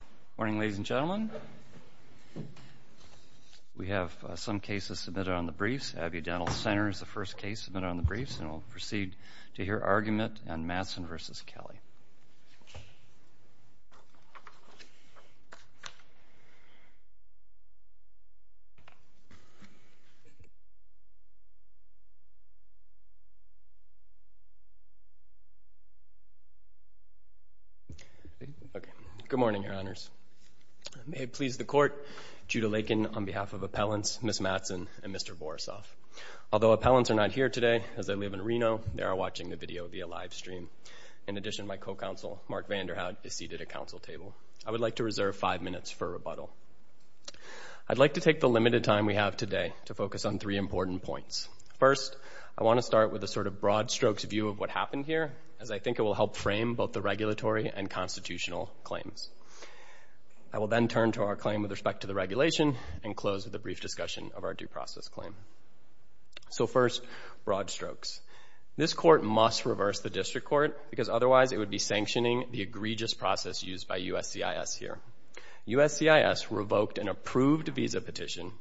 Good morning ladies and gentlemen. We have some cases submitted on the briefs. Abbey Dental Center is the first case submitted on the briefs and we'll proceed to hear argument on Mattson v. Kelly. Okay, good morning your honors. May it please the court, Judah Lakin on behalf of appellants, Ms. Mattson and Mr. Borisoff. Although appellants are not here today as they live in Reno, they are watching the video via live stream. In addition, my co-counsel Mark Vanderhaad is seated at council table. I would like to reserve five minutes for rebuttal. I'd like to take the limited time we have today to focus on three important points. First, I want to start with a sort of broad strokes view of what happened here as I think it will help frame both the regulatory and constitutional claims. I will then turn to our claim with respect to the regulation and close with a brief discussion of our due process claim. So first, broad strokes. This court must reverse the district court because otherwise it would be sanctioning the egregious process used by USCIS here. USCIS revoked an approved visa petition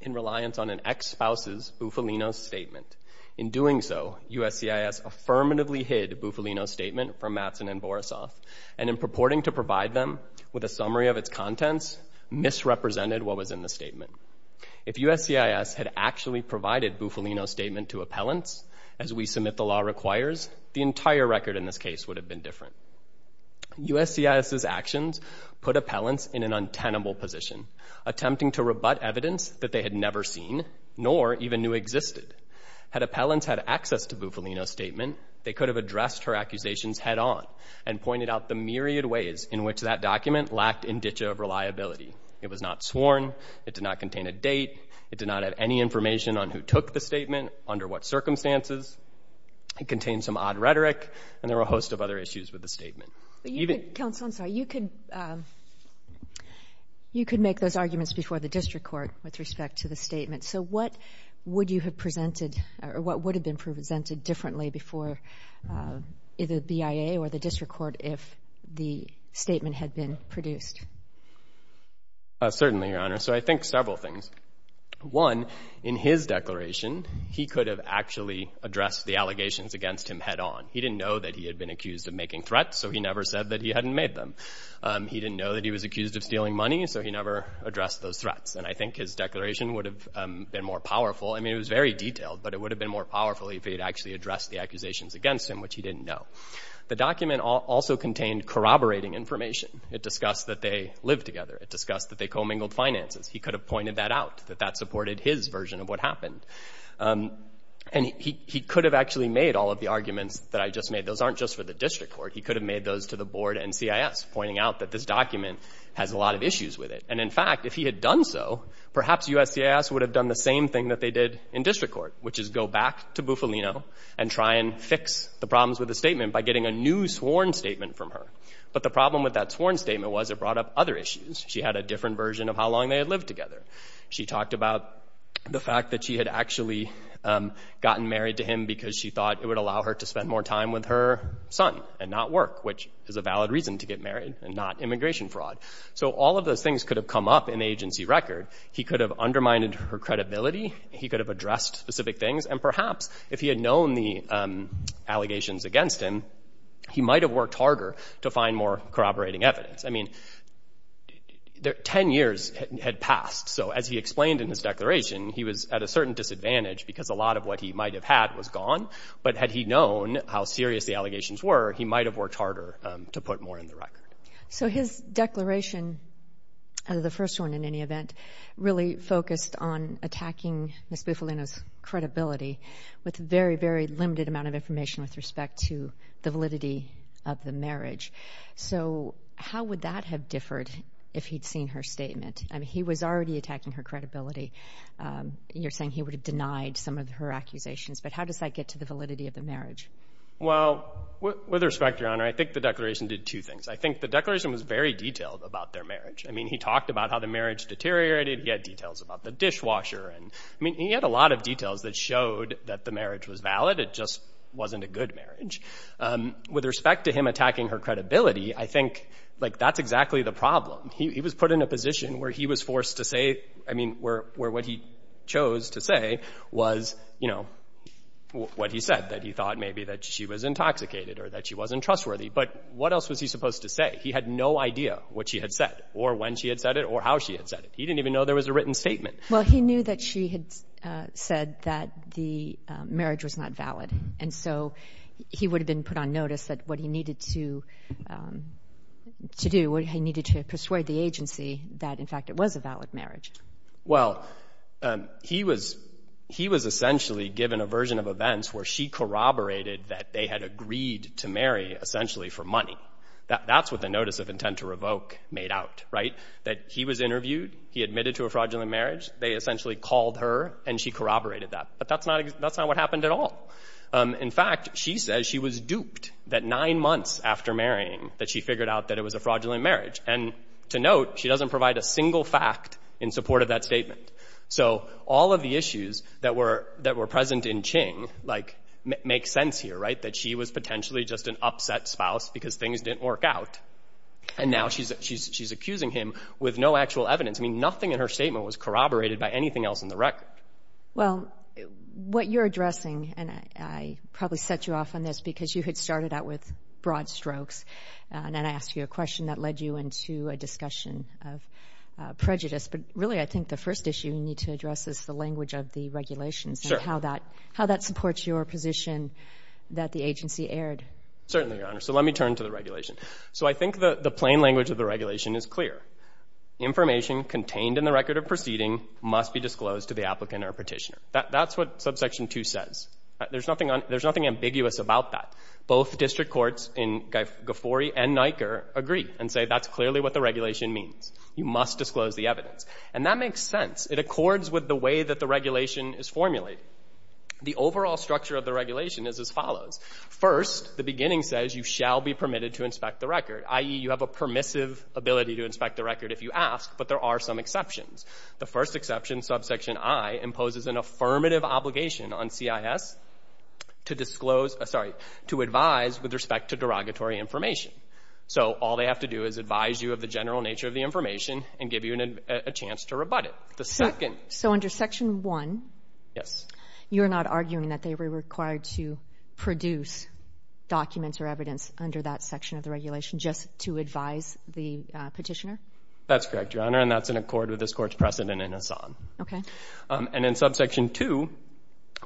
in reliance on an ex-spouse's Bufalino statement. In doing so, USCIS affirmatively hid Bufalino statement from Mattson and Borisoff and in purporting to provide them with a summary of its contents misrepresented what was in the statement. If USCIS had actually provided Bufalino statement to appellants as we submit the law requires, the entire record in this case would have been different. USCIS's actions put appellants in an untenable position, attempting to rebut evidence that they had never seen nor even knew existed. Had appellants had access to Bufalino statement, they could have addressed her accusations head on and pointed out the myriad ways in which that document lacked indicia of reliability. It was not sworn, it did not contain a date, it did not have any information on who took the statement, under what circumstances, it contained some odd rhetoric, and there were a host of other issues with the statement. Even... Counsel, I'm sorry, you could make those arguments before the district court with respect to the statement. So what would you have presented, or what would have been presented differently before either BIA or the district court if the statement had been produced? Certainly, Your Honor. So I think several things. One, in his declaration, he could have actually addressed the allegations against him head on. He didn't know that he had been accused of making threats, so he never said that he hadn't made them. He didn't know that he was accused of stealing money, so he never addressed those threats. And I think his declaration would have been more powerful. I mean, it was very detailed, but it would have been more powerful if he had actually addressed the accusations against him, which he didn't know. The document also contained corroborating information. It discussed that they lived together. It discussed that they co-mingled finances. He could have pointed that out, that that supported his version of what happened. And he could have actually made all of the arguments that I just made. Those aren't just for the district court. He could have made those to the board and CIS, pointing out that this document has a lot of issues with it. And in fact, if he had done so, perhaps USCIS would have done the same thing that they did in district court, which is go back to Bufalino and try and fix the problems with the statement by getting a new sworn statement from her. But the problem with that sworn statement was it brought up other issues. She had a different version of how long they had lived together. She talked about the fact that she had actually gotten married to him because she thought it would allow her to spend more time with her son and not work, which is a valid reason to get married and not immigration fraud. So all of those things could have come up in the agency record. He could have undermined her credibility. He could have addressed specific things. And perhaps if he had known the allegations against him, he might have worked harder to find more corroborating evidence. I mean, 10 years had passed. So as he explained in his declaration, he was at a certain disadvantage because a lot of what he might have had was gone. But had he known how serious the allegations were, he might have worked harder to put more in the record. So his declaration, the first one in any event, really focused on attacking Ms. Bufalino's credibility with a very, very limited amount of information with respect to the validity of the marriage. So how would that have differed if he'd seen her statement? I mean, he was already attacking her credibility. You're saying he would have denied some of her accusations, but how does that get to the validity of the marriage? Well, with respect, Your Honor, I think the declaration did two things. I think the declaration was very detailed about their marriage. I mean, he talked about how the marriage deteriorated, he had details about the dishwasher, and I think it showed that the marriage was valid. It just wasn't a good marriage. With respect to him attacking her credibility, I think that's exactly the problem. He was put in a position where he was forced to say, I mean, where what he chose to say was what he said, that he thought maybe that she was intoxicated or that she wasn't trustworthy. But what else was he supposed to say? He had no idea what she had said or when she had said it or how she had said it. He didn't even know there was a written statement. Well, he knew that she had said that the marriage was not valid, and so he would have been put on notice that what he needed to do, he needed to persuade the agency that, in fact, it was a valid marriage. Well, he was essentially given a version of events where she corroborated that they had agreed to marry essentially for money. That's what the notice of intent to revoke made out, right? That he was interviewed, he admitted to a fraudulent marriage, they essentially called her and she corroborated that. But that's not what happened at all. In fact, she says she was duped that nine months after marrying that she figured out that it was a fraudulent marriage. And to note, she doesn't provide a single fact in support of that statement. So all of the issues that were present in Ching make sense here, right? That she was potentially just an upset spouse because things didn't work out, and now she's accusing him with no actual evidence. I mean, nothing in her statement was corroborated by anything else in the record. Well, what you're addressing, and I probably set you off on this because you had started out with broad strokes, and I asked you a question that led you into a discussion of prejudice. But really, I think the first issue you need to address is the language of the regulations and how that supports your position that the agency erred. Certainly, Your Honor. So let me turn to the regulation. So I think the plain language of the regulation is clear. Information contained in the record of proceeding must be disclosed to the applicant or petitioner. That's what subsection 2 says. There's nothing ambiguous about that. Both district courts in GFORI and NICAR agree and say that's clearly what the regulation means. You must disclose the evidence. And that makes sense. It accords with the way that the regulation is formulated. The overall structure of the regulation is as follows. First, the beginning says you shall be permitted to inspect the record, i.e., you have a permissive ability to inspect the record if you ask, but there are some exceptions. The first exception, subsection I, imposes an affirmative obligation on CIS to advise with respect to derogatory information. So all they have to do is advise you of the general nature of the information and give you a chance to rebut it. The second. So under section 1, you're not arguing that they were required to produce documents or evidence under that section of the regulation just to advise the petitioner? That's correct, Your Honor. And that's in accord with this court's precedent in Assam. And then subsection 2,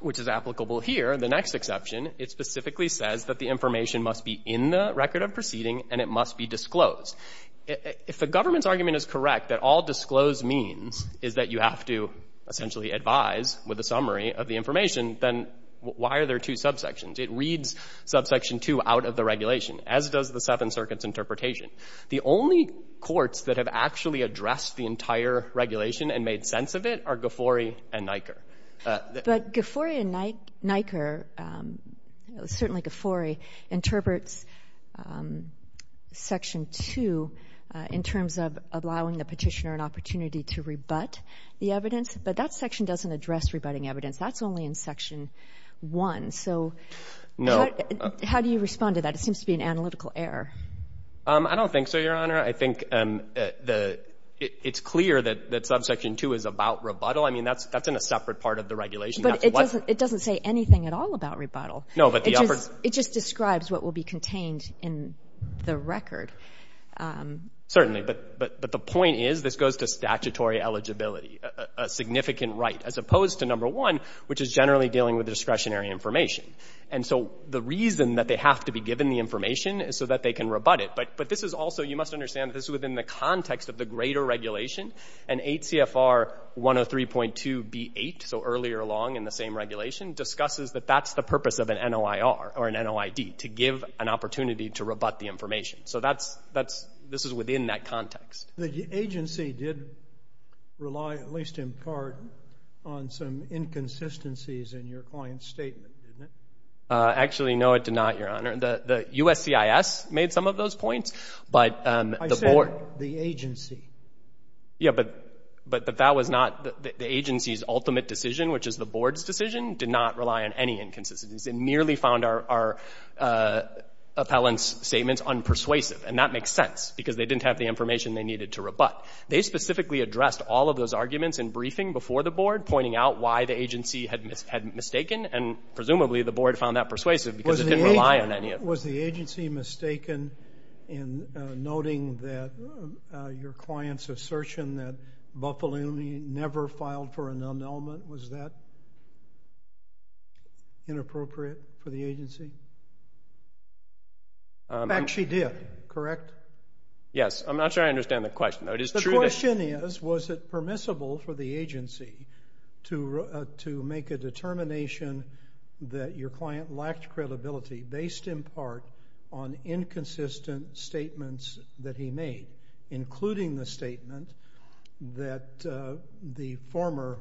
which is applicable here, the next exception, it specifically says that the information must be in the record of proceeding and it must be disclosed. If the government's argument is correct that all disclosed means is that you have to essentially advise with a summary of the information, then why are there two subsections? It reads subsection 2 out of the regulation, as does the Seventh Circuit's interpretation. The only courts that have actually addressed the entire regulation and made sense of it are Ghaffori and Nyker. But Ghaffori and Nyker, certainly Ghaffori, interprets section 2 in terms of allowing the petitioner an opportunity to rebut the evidence, but that section doesn't address rebutting evidence. That's only in section 1. So how do you respond to that? It seems to be an analytical error. I don't think so, Your Honor. I think it's clear that subsection 2 is about rebuttal. I mean, that's in a separate part of the regulation. But it doesn't say anything at all about rebuttal. No, but the other one It just describes what will be contained in the record. Certainly. But the point is this goes to statutory eligibility, a significant right, as opposed to number 1, which is generally dealing with discretionary information. And so the reason that they have to be given the information is so that they can rebut it. But this is also, you must understand, this is within the context of the greater regulation. And 8 CFR 103.2B8, so earlier along in the same regulation, discusses that that's the purpose of an NOIR or an NOID, to give an opportunity to rebut the information. So this is within that context. The agency did rely, at least in part, on some inconsistencies in your client's statement, didn't it? Actually, no, it did not, Your Honor. The USCIS made some of those points. But the board I said the agency. Yeah, but that was not the agency's ultimate decision, which is the board's decision, did not rely on any inconsistencies. It merely found our appellant's statements unpersuasive. And that makes sense, because they didn't have the information they needed to rebut. They specifically addressed all of those arguments in briefing before the board, pointing out why the agency had mistaken. And presumably, the board found that persuasive because it didn't rely on any of it. Was the agency mistaken in noting that your client's assertion that Buffalini never filed for an annulment, was that inappropriate for the agency? In fact, she did, correct? Yes. I'm not sure I understand the question, though. The question is, was it permissible for the agency to make a determination that your client lacked credibility based in part on inconsistent statements that he made, including the statement that the former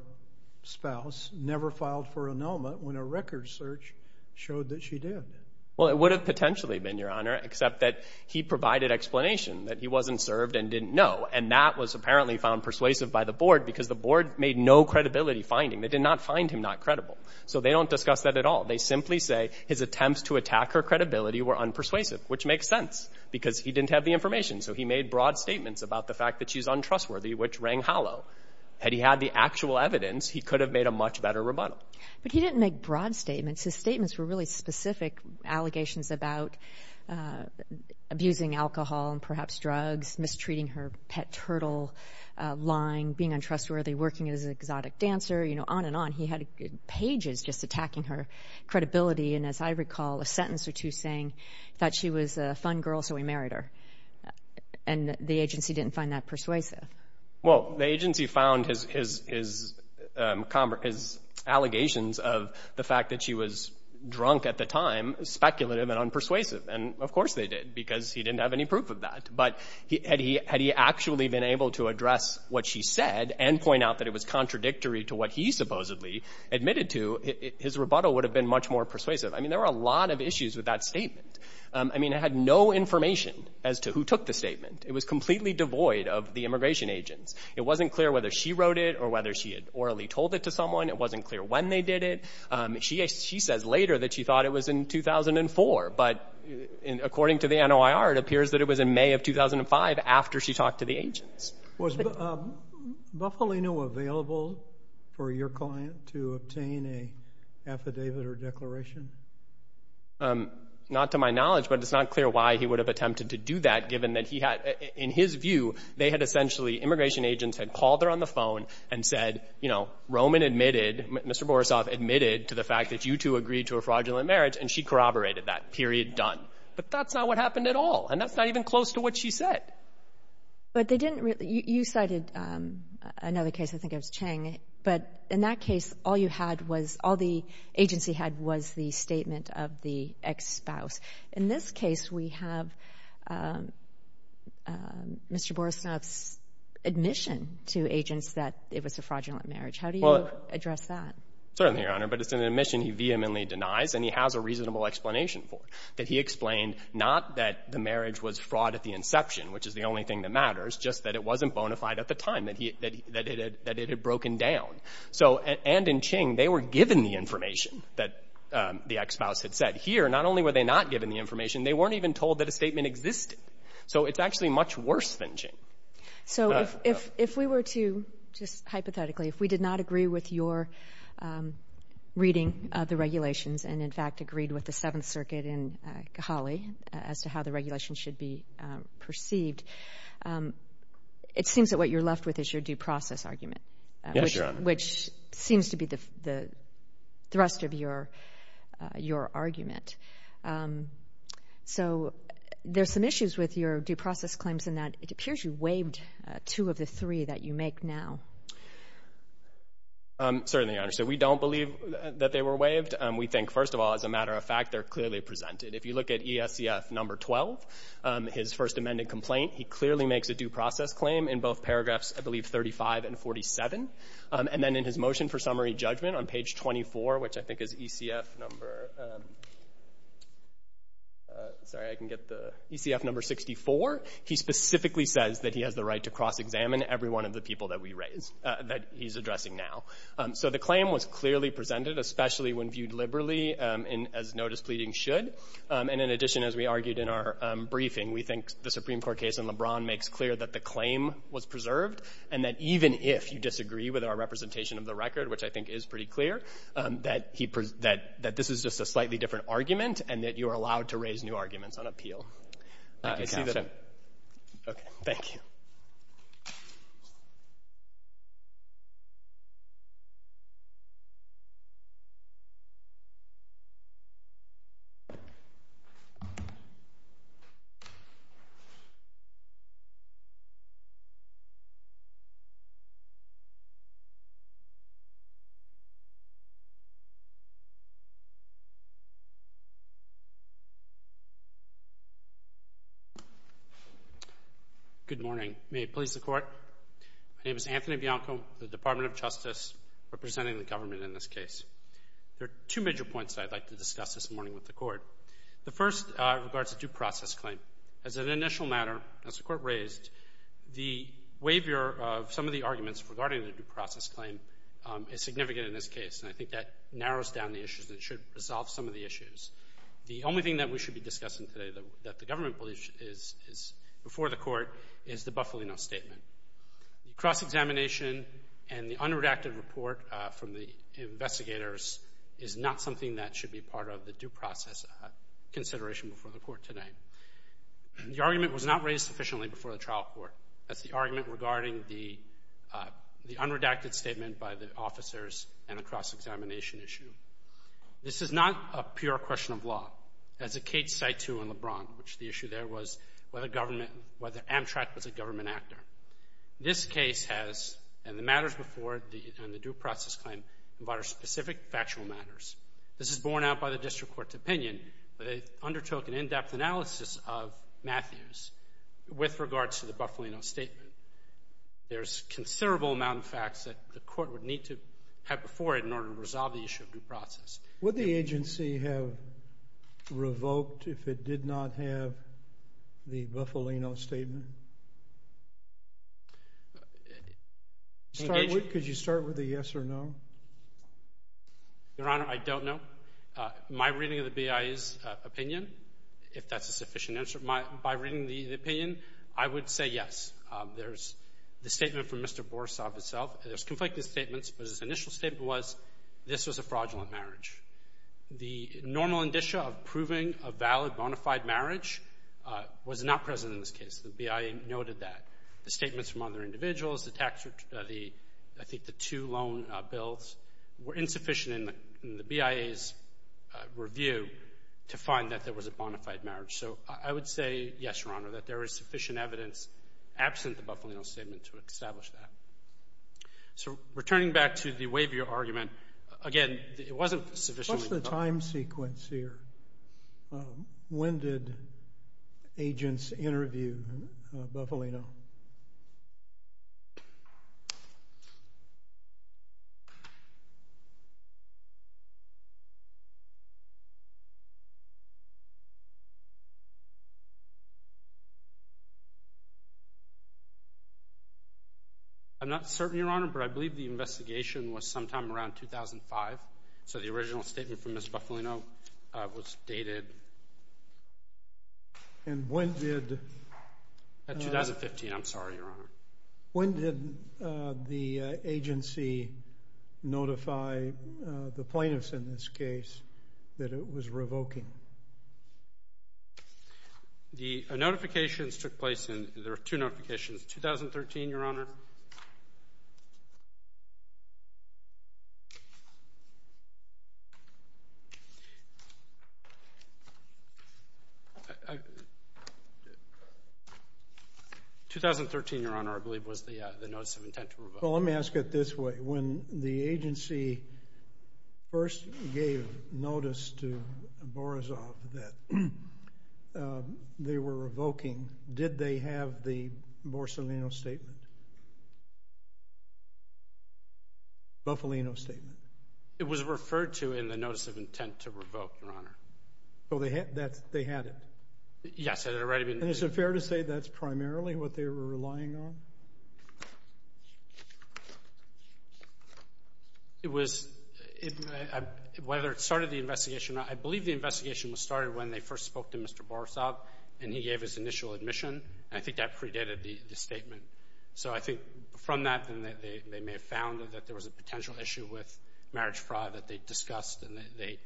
spouse never filed for annulment when a record search showed that she did? Well, it would have potentially been, Your Honor, except that he provided explanation that he wasn't served and didn't know. And that was apparently found persuasive by the board because the board made no credibility finding. They did not find him not credible. So they don't discuss that at all. They simply say his attempts to attack her credibility were unpersuasive, which makes sense because he didn't have the information. So he made broad statements about the fact that she's untrustworthy, which rang hollow. Had he had the actual evidence, he could have made a much better rebuttal. But he didn't make broad statements. His statements were really specific allegations about abusing alcohol and perhaps drugs, mistreating her pet turtle, lying, being untrustworthy, working as an exotic dancer, you know, on and on. And he had pages just attacking her credibility and, as I recall, a sentence or two saying that she was a fun girl, so he married her. And the agency didn't find that persuasive. Well, the agency found his allegations of the fact that she was drunk at the time speculative and unpersuasive. And, of course, they did because he didn't have any proof of that. But had he actually been able to address what she said and point out that it was contradictory to what he supposedly admitted to, his rebuttal would have been much more persuasive. I mean, there were a lot of issues with that statement. I mean, it had no information as to who took the statement. It was completely devoid of the immigration agents. It wasn't clear whether she wrote it or whether she had orally told it to someone. It wasn't clear when they did it. She says later that she thought it was in 2004. But according to the NOIR, it appears that it was in May of 2005 after she talked to the agents. Yes. Was Bufalino available for your client to obtain an affidavit or declaration? Not to my knowledge, but it's not clear why he would have attempted to do that given that he had, in his view, they had essentially, immigration agents had called her on the phone and said, you know, Roman admitted, Mr. Borisov admitted to the fact that you two agreed to a fraudulent marriage, and she corroborated that, period, done. But that's not what happened at all. And that's not even close to what she said. But they didn't really, you cited another case, I think it was Chang, but in that case, all you had was, all the agency had was the statement of the ex-spouse. In this case, we have Mr. Borisov's admission to agents that it was a fraudulent marriage. How do you address that? Well, certainly, Your Honor, but it's an admission he vehemently denies, and he has a reasonable explanation for it, that he explained not that the marriage was fraud at the inception, which is the only thing that matters, just that it wasn't bona fide at the time, that it had broken down. So and in Chang, they were given the information that the ex-spouse had said. Here, not only were they not given the information, they weren't even told that a statement existed. So it's actually much worse than Chang. So if we were to, just hypothetically, if we did not agree with your reading the regulations and, in fact, agreed with the Seventh Circuit in Cali as to how the regulations should be perceived, it seems that what you're left with is your due process argument, which seems to be the thrust of your argument. So there's some issues with your due process claims in that it appears you waived two of the three that you make now. Certainly, Your Honor. So we don't believe that they were waived. We think, first of all, as a matter of fact, they're clearly presented. If you look at ESCF number 12, his first amended complaint, he clearly makes a due process claim in both paragraphs, I believe, 35 and 47. And then in his motion for summary judgment on page 24, which I think is ECF number 64, he specifically says that he has the right to cross-examine every one of the people that we raise, that he's addressing now. So the claim was clearly presented, especially when viewed liberally as no displeasing should. And in addition, as we argued in our briefing, we think the Supreme Court case in LeBron makes clear that the claim was preserved and that even if you disagree with our representation of the record, which I think is pretty clear, that this is just a slightly different argument and that you are allowed to raise new arguments on appeal. Thank you, Counselor. Okay. Thank you. Thank you, Your Honor. Good morning. My name is Anthony Bianco, the Department of Justice representing the government in this case. There are two major points that I'd like to discuss this morning with the Court. The first regards a due process claim. As an initial matter, as the Court raised, the waiver of some of the arguments regarding the due process claim is significant in this case, and I think that narrows down the issues that should resolve some of the issues. The only thing that we should be discussing today that the government believes is before the Court is the Bufalino Statement. The cross-examination and the unredacted report from the investigators is not something that should be part of the due process consideration before the Court today. The argument was not raised sufficiently before the trial court as the argument regarding the unredacted statement by the officers and the cross-examination issue. This is not a pure question of law. As Kate cited in LeBron, the issue there was whether Amtrak was a government actor. This case has, and the matters before it and the due process claim, are specific factual matters. This is borne out by the District Court's opinion, but they undertook an in-depth analysis of Matthews with regards to the Bufalino Statement. There's considerable amount of facts that the Court would need to have before it in order to resolve the issue of due process. Would the agency have revoked if it did not have the Bufalino Statement? Could you start with a yes or no? Your Honor, I don't know. My reading of the BIE's opinion, if that's a sufficient answer, by reading the opinion, I would say yes. There's the statement from Mr. Borsov himself, there's conflicted statements, but his initial statement was this was a fraudulent marriage. The normal indicia of proving a valid bona fide marriage was not present in this case. The BIE noted that. The statements from other individuals, the tax return, I think the two loan bills were insufficient in the BIE's review to find that there was a bona fide marriage. So I would say yes, Your Honor, that there is sufficient evidence absent the Bufalino Statement to establish that. So returning back to the waiver argument, again, it wasn't sufficient. What's the time sequence here? When did agents interview Bufalino? I'm not certain, Your Honor, but I believe the investigation was sometime around 2005. So the original statement from Ms. Bufalino was dated. And when did the agency notify the plaintiffs in this case that it was revoking? The notifications took place in, there were two notifications, 2013, Your Honor. 2013, Your Honor, I believe was the notice of intent to revoke. Well, let me ask it this way. When the agency first gave notice to Borisov that they were revoking, did they have the Bufalino Statement? It was referred to in the notice of intent to revoke, Your Honor. They had it? Yes. And is it fair to say that's primarily what they were relying on? It was, whether it started the investigation or not, I believe the investigation was started when they first spoke to Mr. Borisov and he gave his initial admission. I think that predated the statement. So I think from that, they may have found that there was a potential issue with marriage fraud that they discussed and they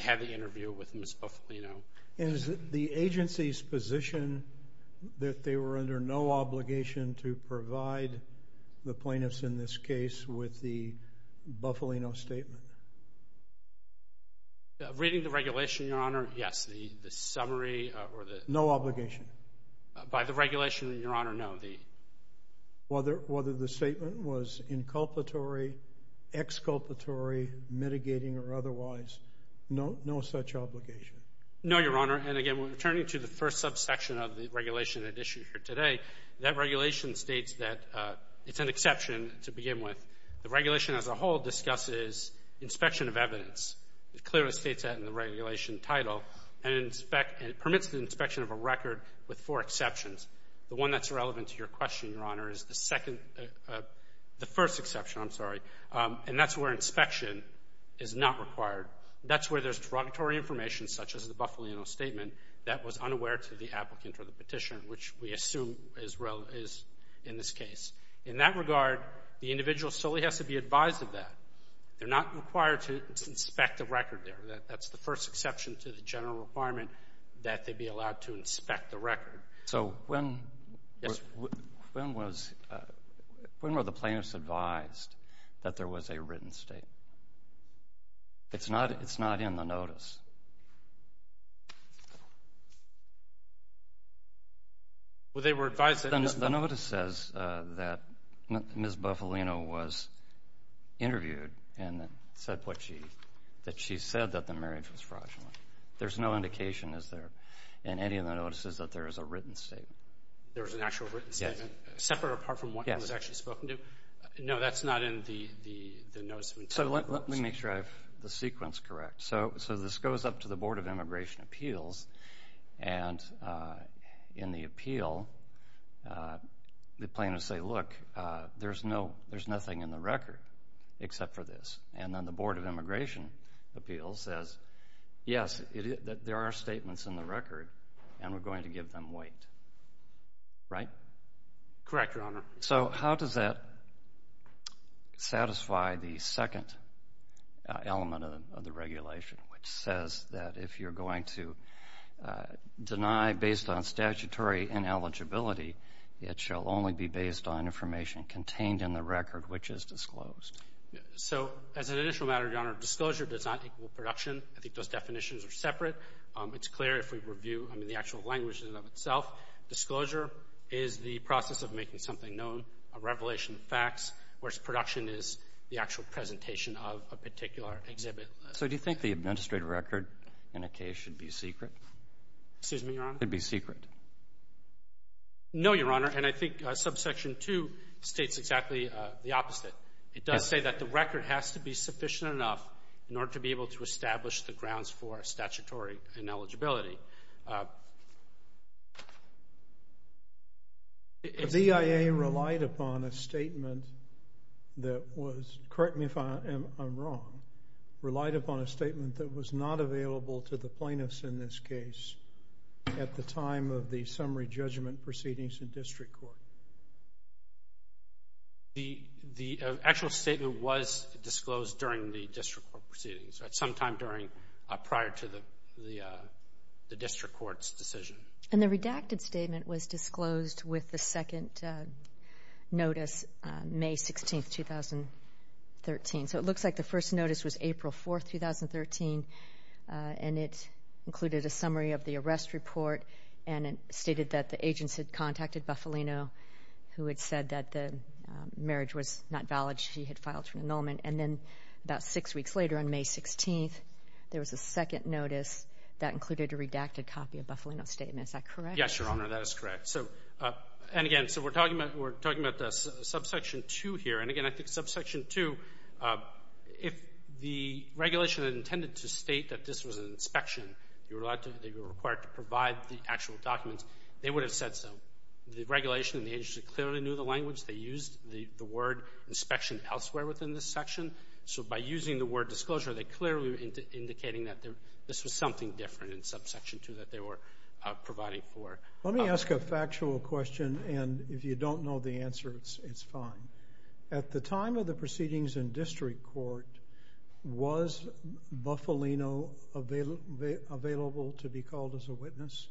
had the interview with Ms. Bufalino. And is it the agency's position that they were under no obligation to provide the plaintiffs in this case with the Bufalino Statement? Reading the regulation, Your Honor, yes, the summary or the... No obligation? By the regulation, Your Honor, no. Whether the statement was inculpatory, exculpatory, mitigating or otherwise, no such obligation? No, Your Honor. And again, returning to the first subsection of the regulation that's issued here today, that regulation states that it's an exception to begin with. The regulation as a whole discusses inspection of evidence. It clearly states that in the regulation title and it permits the inspection of a record with four exceptions. The one that's relevant to your question, Your Honor, is the second, the first exception, I'm sorry. And that's where inspection is not required. That's where there's derogatory information such as the Bufalino Statement that was unaware to the applicant or the petitioner, which we assume is in this case. In that regard, the individual solely has to be advised of that. They're not required to inspect the record there. That's the first exception to the general requirement that they be allowed to inspect the record. So when were the plaintiffs advised that there was a written statement? It's not in the notice. Well, they were advised that... The notice says that Ms. Bufalino was interviewed and said that she said that the marriage was fraudulent. There's no indication, is there, in any of the notices that there is a written statement. There was an actual written statement, separate apart from what it was actually spoken to? Yes. No, that's not in the notice. So let me make sure I have the sequence correct. So this goes up to the Board of Immigration Appeals, and in the appeal, the plaintiffs say, look, there's nothing in the record except for this. And then the Board of Immigration Appeals says, yes, there are statements in the record, and we're going to give them weight. Right? Correct, Your Honor. So how does that satisfy the second element of the regulation, which says that if you're going to deny based on statutory ineligibility, it shall only be based on information contained in the record, which is disclosed? So as an initial matter, Your Honor, disclosure does not equal production. I think those definitions are separate. It's clear if we review the actual language in and of itself. Disclosure is the process of making something known, a revelation of facts, whereas production is the actual presentation of a particular exhibit. So do you think the administrative record in a case should be secret? Excuse me, Your Honor? Should it be secret? No, Your Honor, and I think subsection 2 states exactly the opposite. It does say that the record has to be sufficient enough in order to be able to establish the The BIA relied upon a statement that was, correct me if I'm wrong, relied upon a statement that was not available to the plaintiffs in this case at the time of the summary judgment proceedings in district court. The actual statement was disclosed during the district court proceedings, sometime prior to the district court's decision. And the redacted statement was disclosed with the second notice, May 16, 2013. So it looks like the first notice was April 4, 2013, and it included a summary of the arrest report, and it stated that the agents had contacted Bufalino, who had said that the marriage was not valid. She had filed for an annulment. And then about six weeks later, on May 16, there was a second notice that included a Yes, Your Honor, that is correct. And again, so we're talking about subsection 2 here. And again, I think subsection 2, if the regulation intended to state that this was an inspection, they were required to provide the actual documents, they would have said so. The regulation and the agency clearly knew the language. They used the word inspection elsewhere within this section. So by using the word disclosure, they clearly were indicating that this was something different than subsection 2 that they were providing for. Let me ask a factual question, and if you don't know the answer, it's fine. At the time of the proceedings in district court, was Bufalino available to be called as a witness?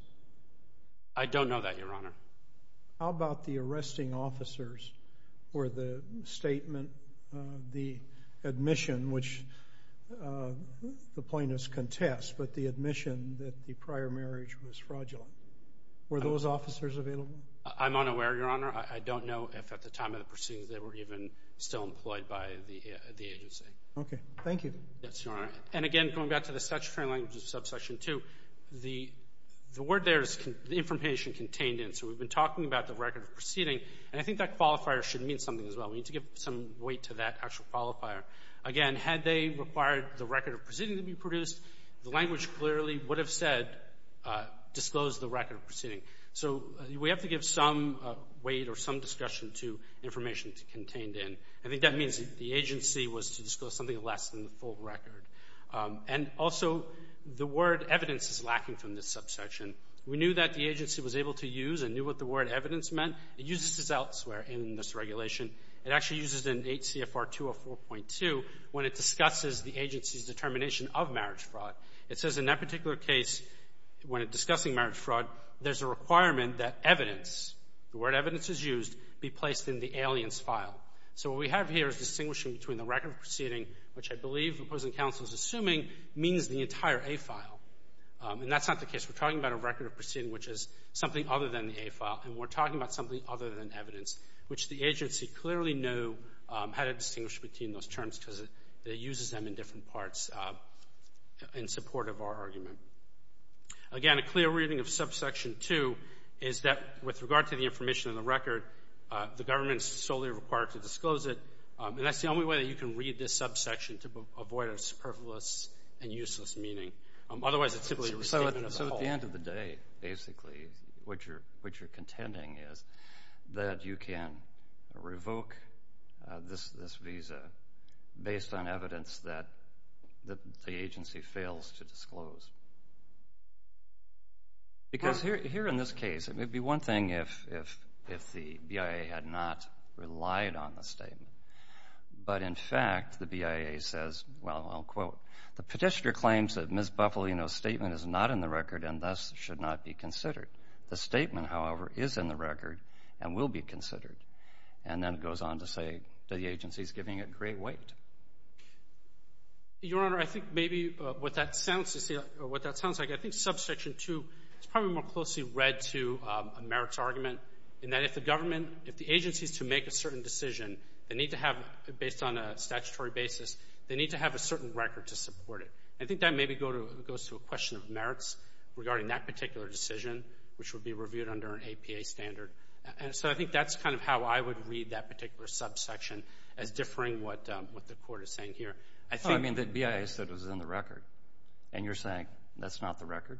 I don't know that, Your Honor. How about the arresting officers, where the statement, the admission, which the plaintiffs contest, but the admission that the prior marriage was fraudulent, were those officers available? I'm unaware, Your Honor. I don't know if at the time of the proceedings they were even still employed by the agency. Okay. Thank you. Yes, Your Honor. And again, going back to the statutory language of subsection 2, the word there is information contained in. So we've been talking about the record of proceeding, and I think that qualifier should mean something as well. We need to give some weight to that actual qualifier. Again, had they required the record of proceeding to be produced, the language clearly would have said disclose the record of proceeding. So we have to give some weight or some discussion to information contained in. I think that means the agency was to disclose something less than the full record. And also, the word evidence is lacking from this subsection. We knew that the agency was able to use and knew what the word evidence meant. It uses this elsewhere in this regulation. It actually uses it in 8 CFR 204.2 when it discusses the agency's determination of marriage fraud. It says in that particular case, when discussing marriage fraud, there's a requirement that evidence, the word evidence is used, be placed in the alien's file. So what we have here is distinguishing between the record of proceeding, which I believe the opposing counsel is assuming means the entire A file. And that's not the case. We're talking about a record of proceeding which is something other than the A file, and we're talking about something other than evidence, which the agency clearly knew how to distinguish between those terms because it uses them in different parts in support of our argument. Again, a clear reading of subsection 2 is that with regard to the information in the record, the government is solely required to disclose it, and that's the only way that you can read this subsection to avoid a superfluous and useless meaning. Otherwise, it's typically a statement of the whole. At the end of the day, basically, what you're contending is that you can revoke this visa based on evidence that the agency fails to disclose. Because here in this case, it may be one thing if the BIA had not relied on the statement, but in fact the BIA says, well, I'll quote, the petitioner claims that Ms. Buffalino's statement is not in the record and thus should not be considered. The statement, however, is in the record and will be considered. And then it goes on to say that the agency is giving it great weight. Your Honor, I think maybe what that sounds like, I think subsection 2 is probably more closely read to a merits argument in that if the government, if the agency is to make a certain decision, they need to have, based on a statutory basis, they need to have a certain record to support it. I think that maybe goes to a question of merits regarding that particular decision, which would be reviewed under an APA standard. And so I think that's kind of how I would read that particular subsection as differing what the Court is saying here. Oh, I mean the BIA said it was in the record, and you're saying that's not the record?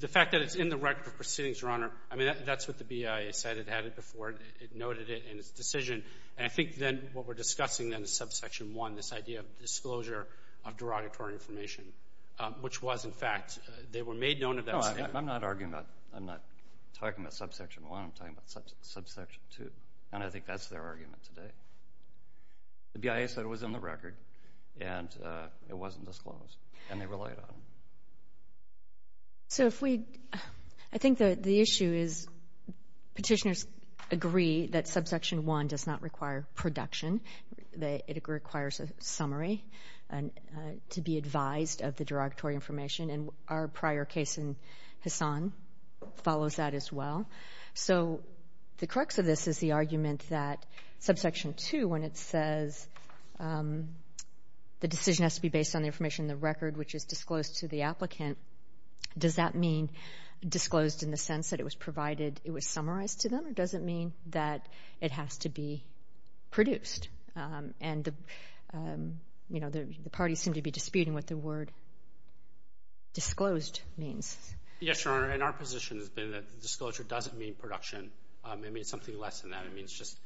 The fact that it's in the record of proceedings, Your Honor, I mean, that's what the BIA said. It had it before. It noted it in its decision. And I think then what we're discussing then is subsection 1, this idea of disclosure of derogatory information, which was, in fact, they were made known of that. No, I'm not arguing about, I'm not talking about subsection 1. I'm talking about subsection 2, and I think that's their argument today. The BIA said it was in the record, and it wasn't disclosed, and they relied on it. So if we, I think the issue is petitioners agree that subsection 1 does not require production. It requires a summary to be advised of the derogatory information, and our prior case in Hassan follows that as well. So the crux of this is the argument that subsection 2, when it says the decision has to be based on the information in the record, which is disclosed to the applicant, does that mean disclosed in the sense that it was provided, it was summarized to them, or does it mean that it has to be produced? And, you know, the parties seem to be disputing what the word disclosed means. Yes, Your Honor, and our position has been that disclosure doesn't mean production. It means something less than that. It means just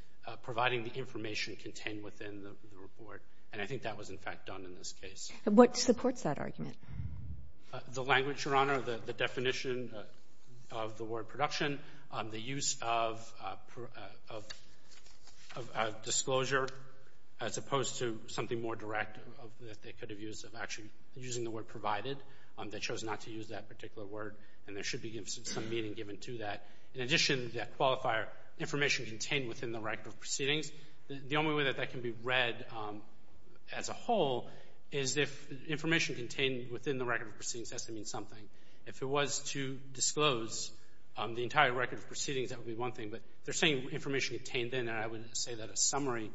providing the information contained within the report, and I think that was, in fact, done in this case. What supports that argument? The language, Your Honor, the definition of the word production, the use of disclosure as opposed to something more direct that they could have used, of actually using the word provided. They chose not to use that particular word, and there should be some meaning given to that. In addition, that qualifier, information contained within the record of proceedings, the only way that that can be read as a whole is if information contained within the record of proceedings has to mean something. If it was to disclose the entire record of proceedings, that would be one thing, but they're saying information contained in it, I would say that a summary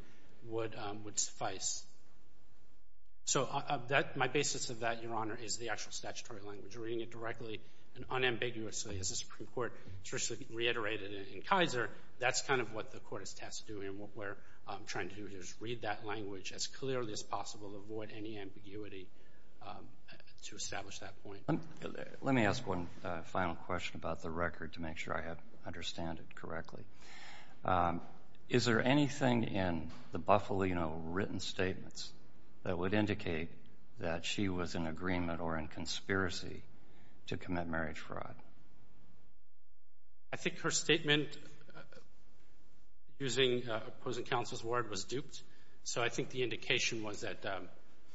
would suffice. So my basis of that, Your Honor, is the actual statutory language. Reading it directly and unambiguously, as the Supreme Court traditionally reiterated in Kaiser, that's kind of what the court is tasked to do, and what we're trying to do is read that language as clearly as possible, avoid any ambiguity to establish that point. Let me ask one final question about the record to make sure I understand it correctly. Is there anything in the Bufalino written statements that would indicate that she was in agreement or in conspiracy to commit marriage fraud? I think her statement using opposing counsel's word was duped, so I think the indication was that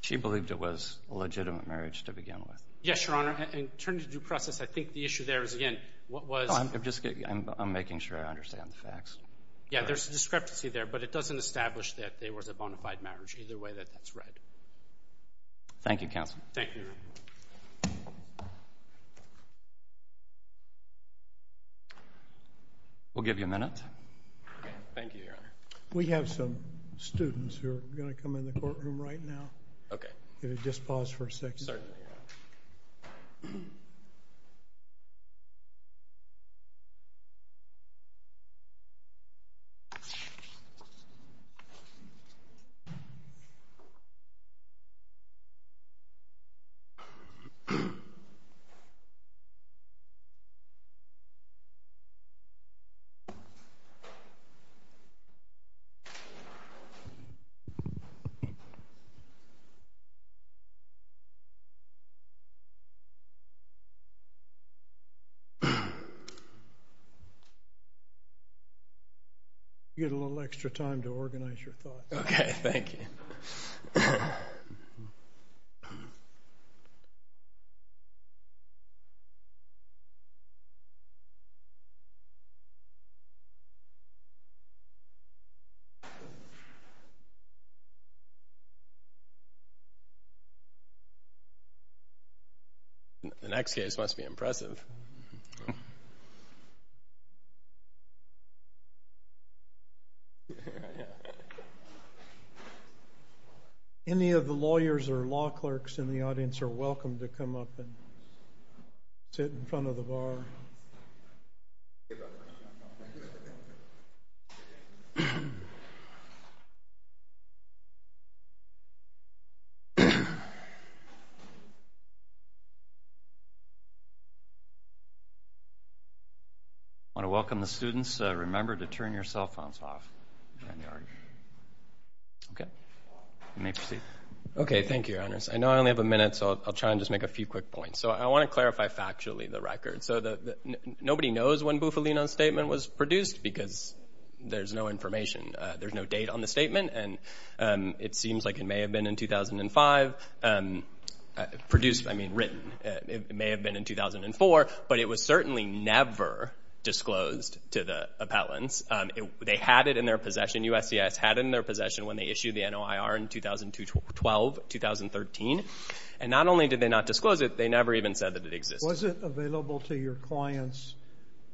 she believed it was a legitimate marriage to begin with. Yes, Your Honor. In terms of due process, I think the issue there is, again, what was I'm making sure I understand the facts. Yeah, there's a discrepancy there, but it doesn't establish that there was a bona fide marriage, either way that that's read. Thank you, counsel. Thank you, Your Honor. We'll give you a minute. Thank you, Your Honor. We have some students who are going to come in the courtroom right now. Okay. Can you just pause for a second? Certainly, Your Honor. You get a little extra time to organize your thoughts. Okay. Thank you. Thank you. The next case must be impressive. Yeah. Any of the lawyers or law clerks in the audience are welcome to come up and sit in front of the bar. Thank you, Your Honor. I want to welcome the students. Remember to turn your cell phones off. Okay. You may proceed. Okay. Thank you, Your Honors. I know I only have a minute, so I'll try and just make a few quick points. So I want to clarify factually the record. So nobody knows when Bufalino's statement was produced because there's no information. There's no date on the statement, and it seems like it may have been in 2005 produced, I mean written. It may have been in 2004, but it was certainly never disclosed to the appellants. They had it in their possession. USCIS had it in their possession when they issued the NOIR in 2012, 2013. And not only did they not disclose it, they never even said that it existed. Was it available to your clients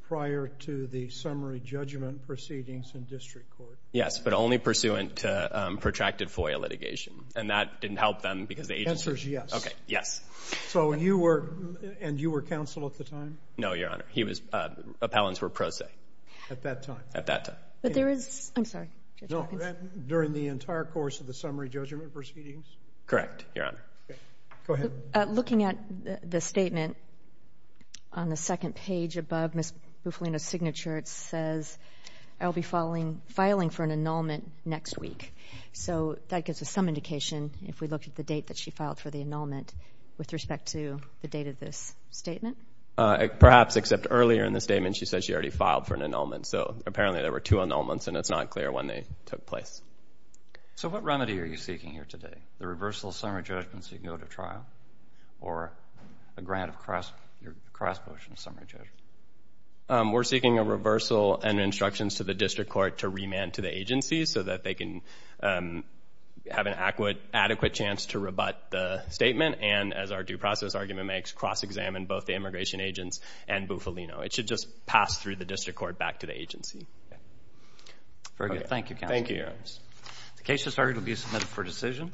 prior to the summary judgment proceedings in district court? Yes, but only pursuant to protracted FOIA litigation. And that didn't help them because the agency – The answer is yes. Okay, yes. So you were – and you were counsel at the time? No, Your Honor. He was – appellants were pro se. At that time? At that time. But there is – I'm sorry, Judge Hawkins. During the entire course of the summary judgment proceedings? Correct, Your Honor. Okay. Go ahead. Looking at the statement on the second page above Ms. Bufalino's signature, it says, I'll be filing for an annulment next week. So that gives us some indication if we look at the date that she filed for the annulment with respect to the date of this statement. Perhaps, except earlier in the statement she said she already filed for an annulment. So apparently there were two annulments, and it's not clear when they took place. So what remedy are you seeking here today? The reversal of summary judgment so you can go to trial? Or a grant of cross-voting summary judgment? We're seeking a reversal and instructions to the district court to remand to the agency so that they can have an adequate chance to rebut the statement and, as our due process argument makes, cross-examine both the immigration agents and Bufalino. It should just pass through the district court back to the agency. Okay. Very good. Thank you, Counsel. Thank you. The case has started. It will be submitted for decision.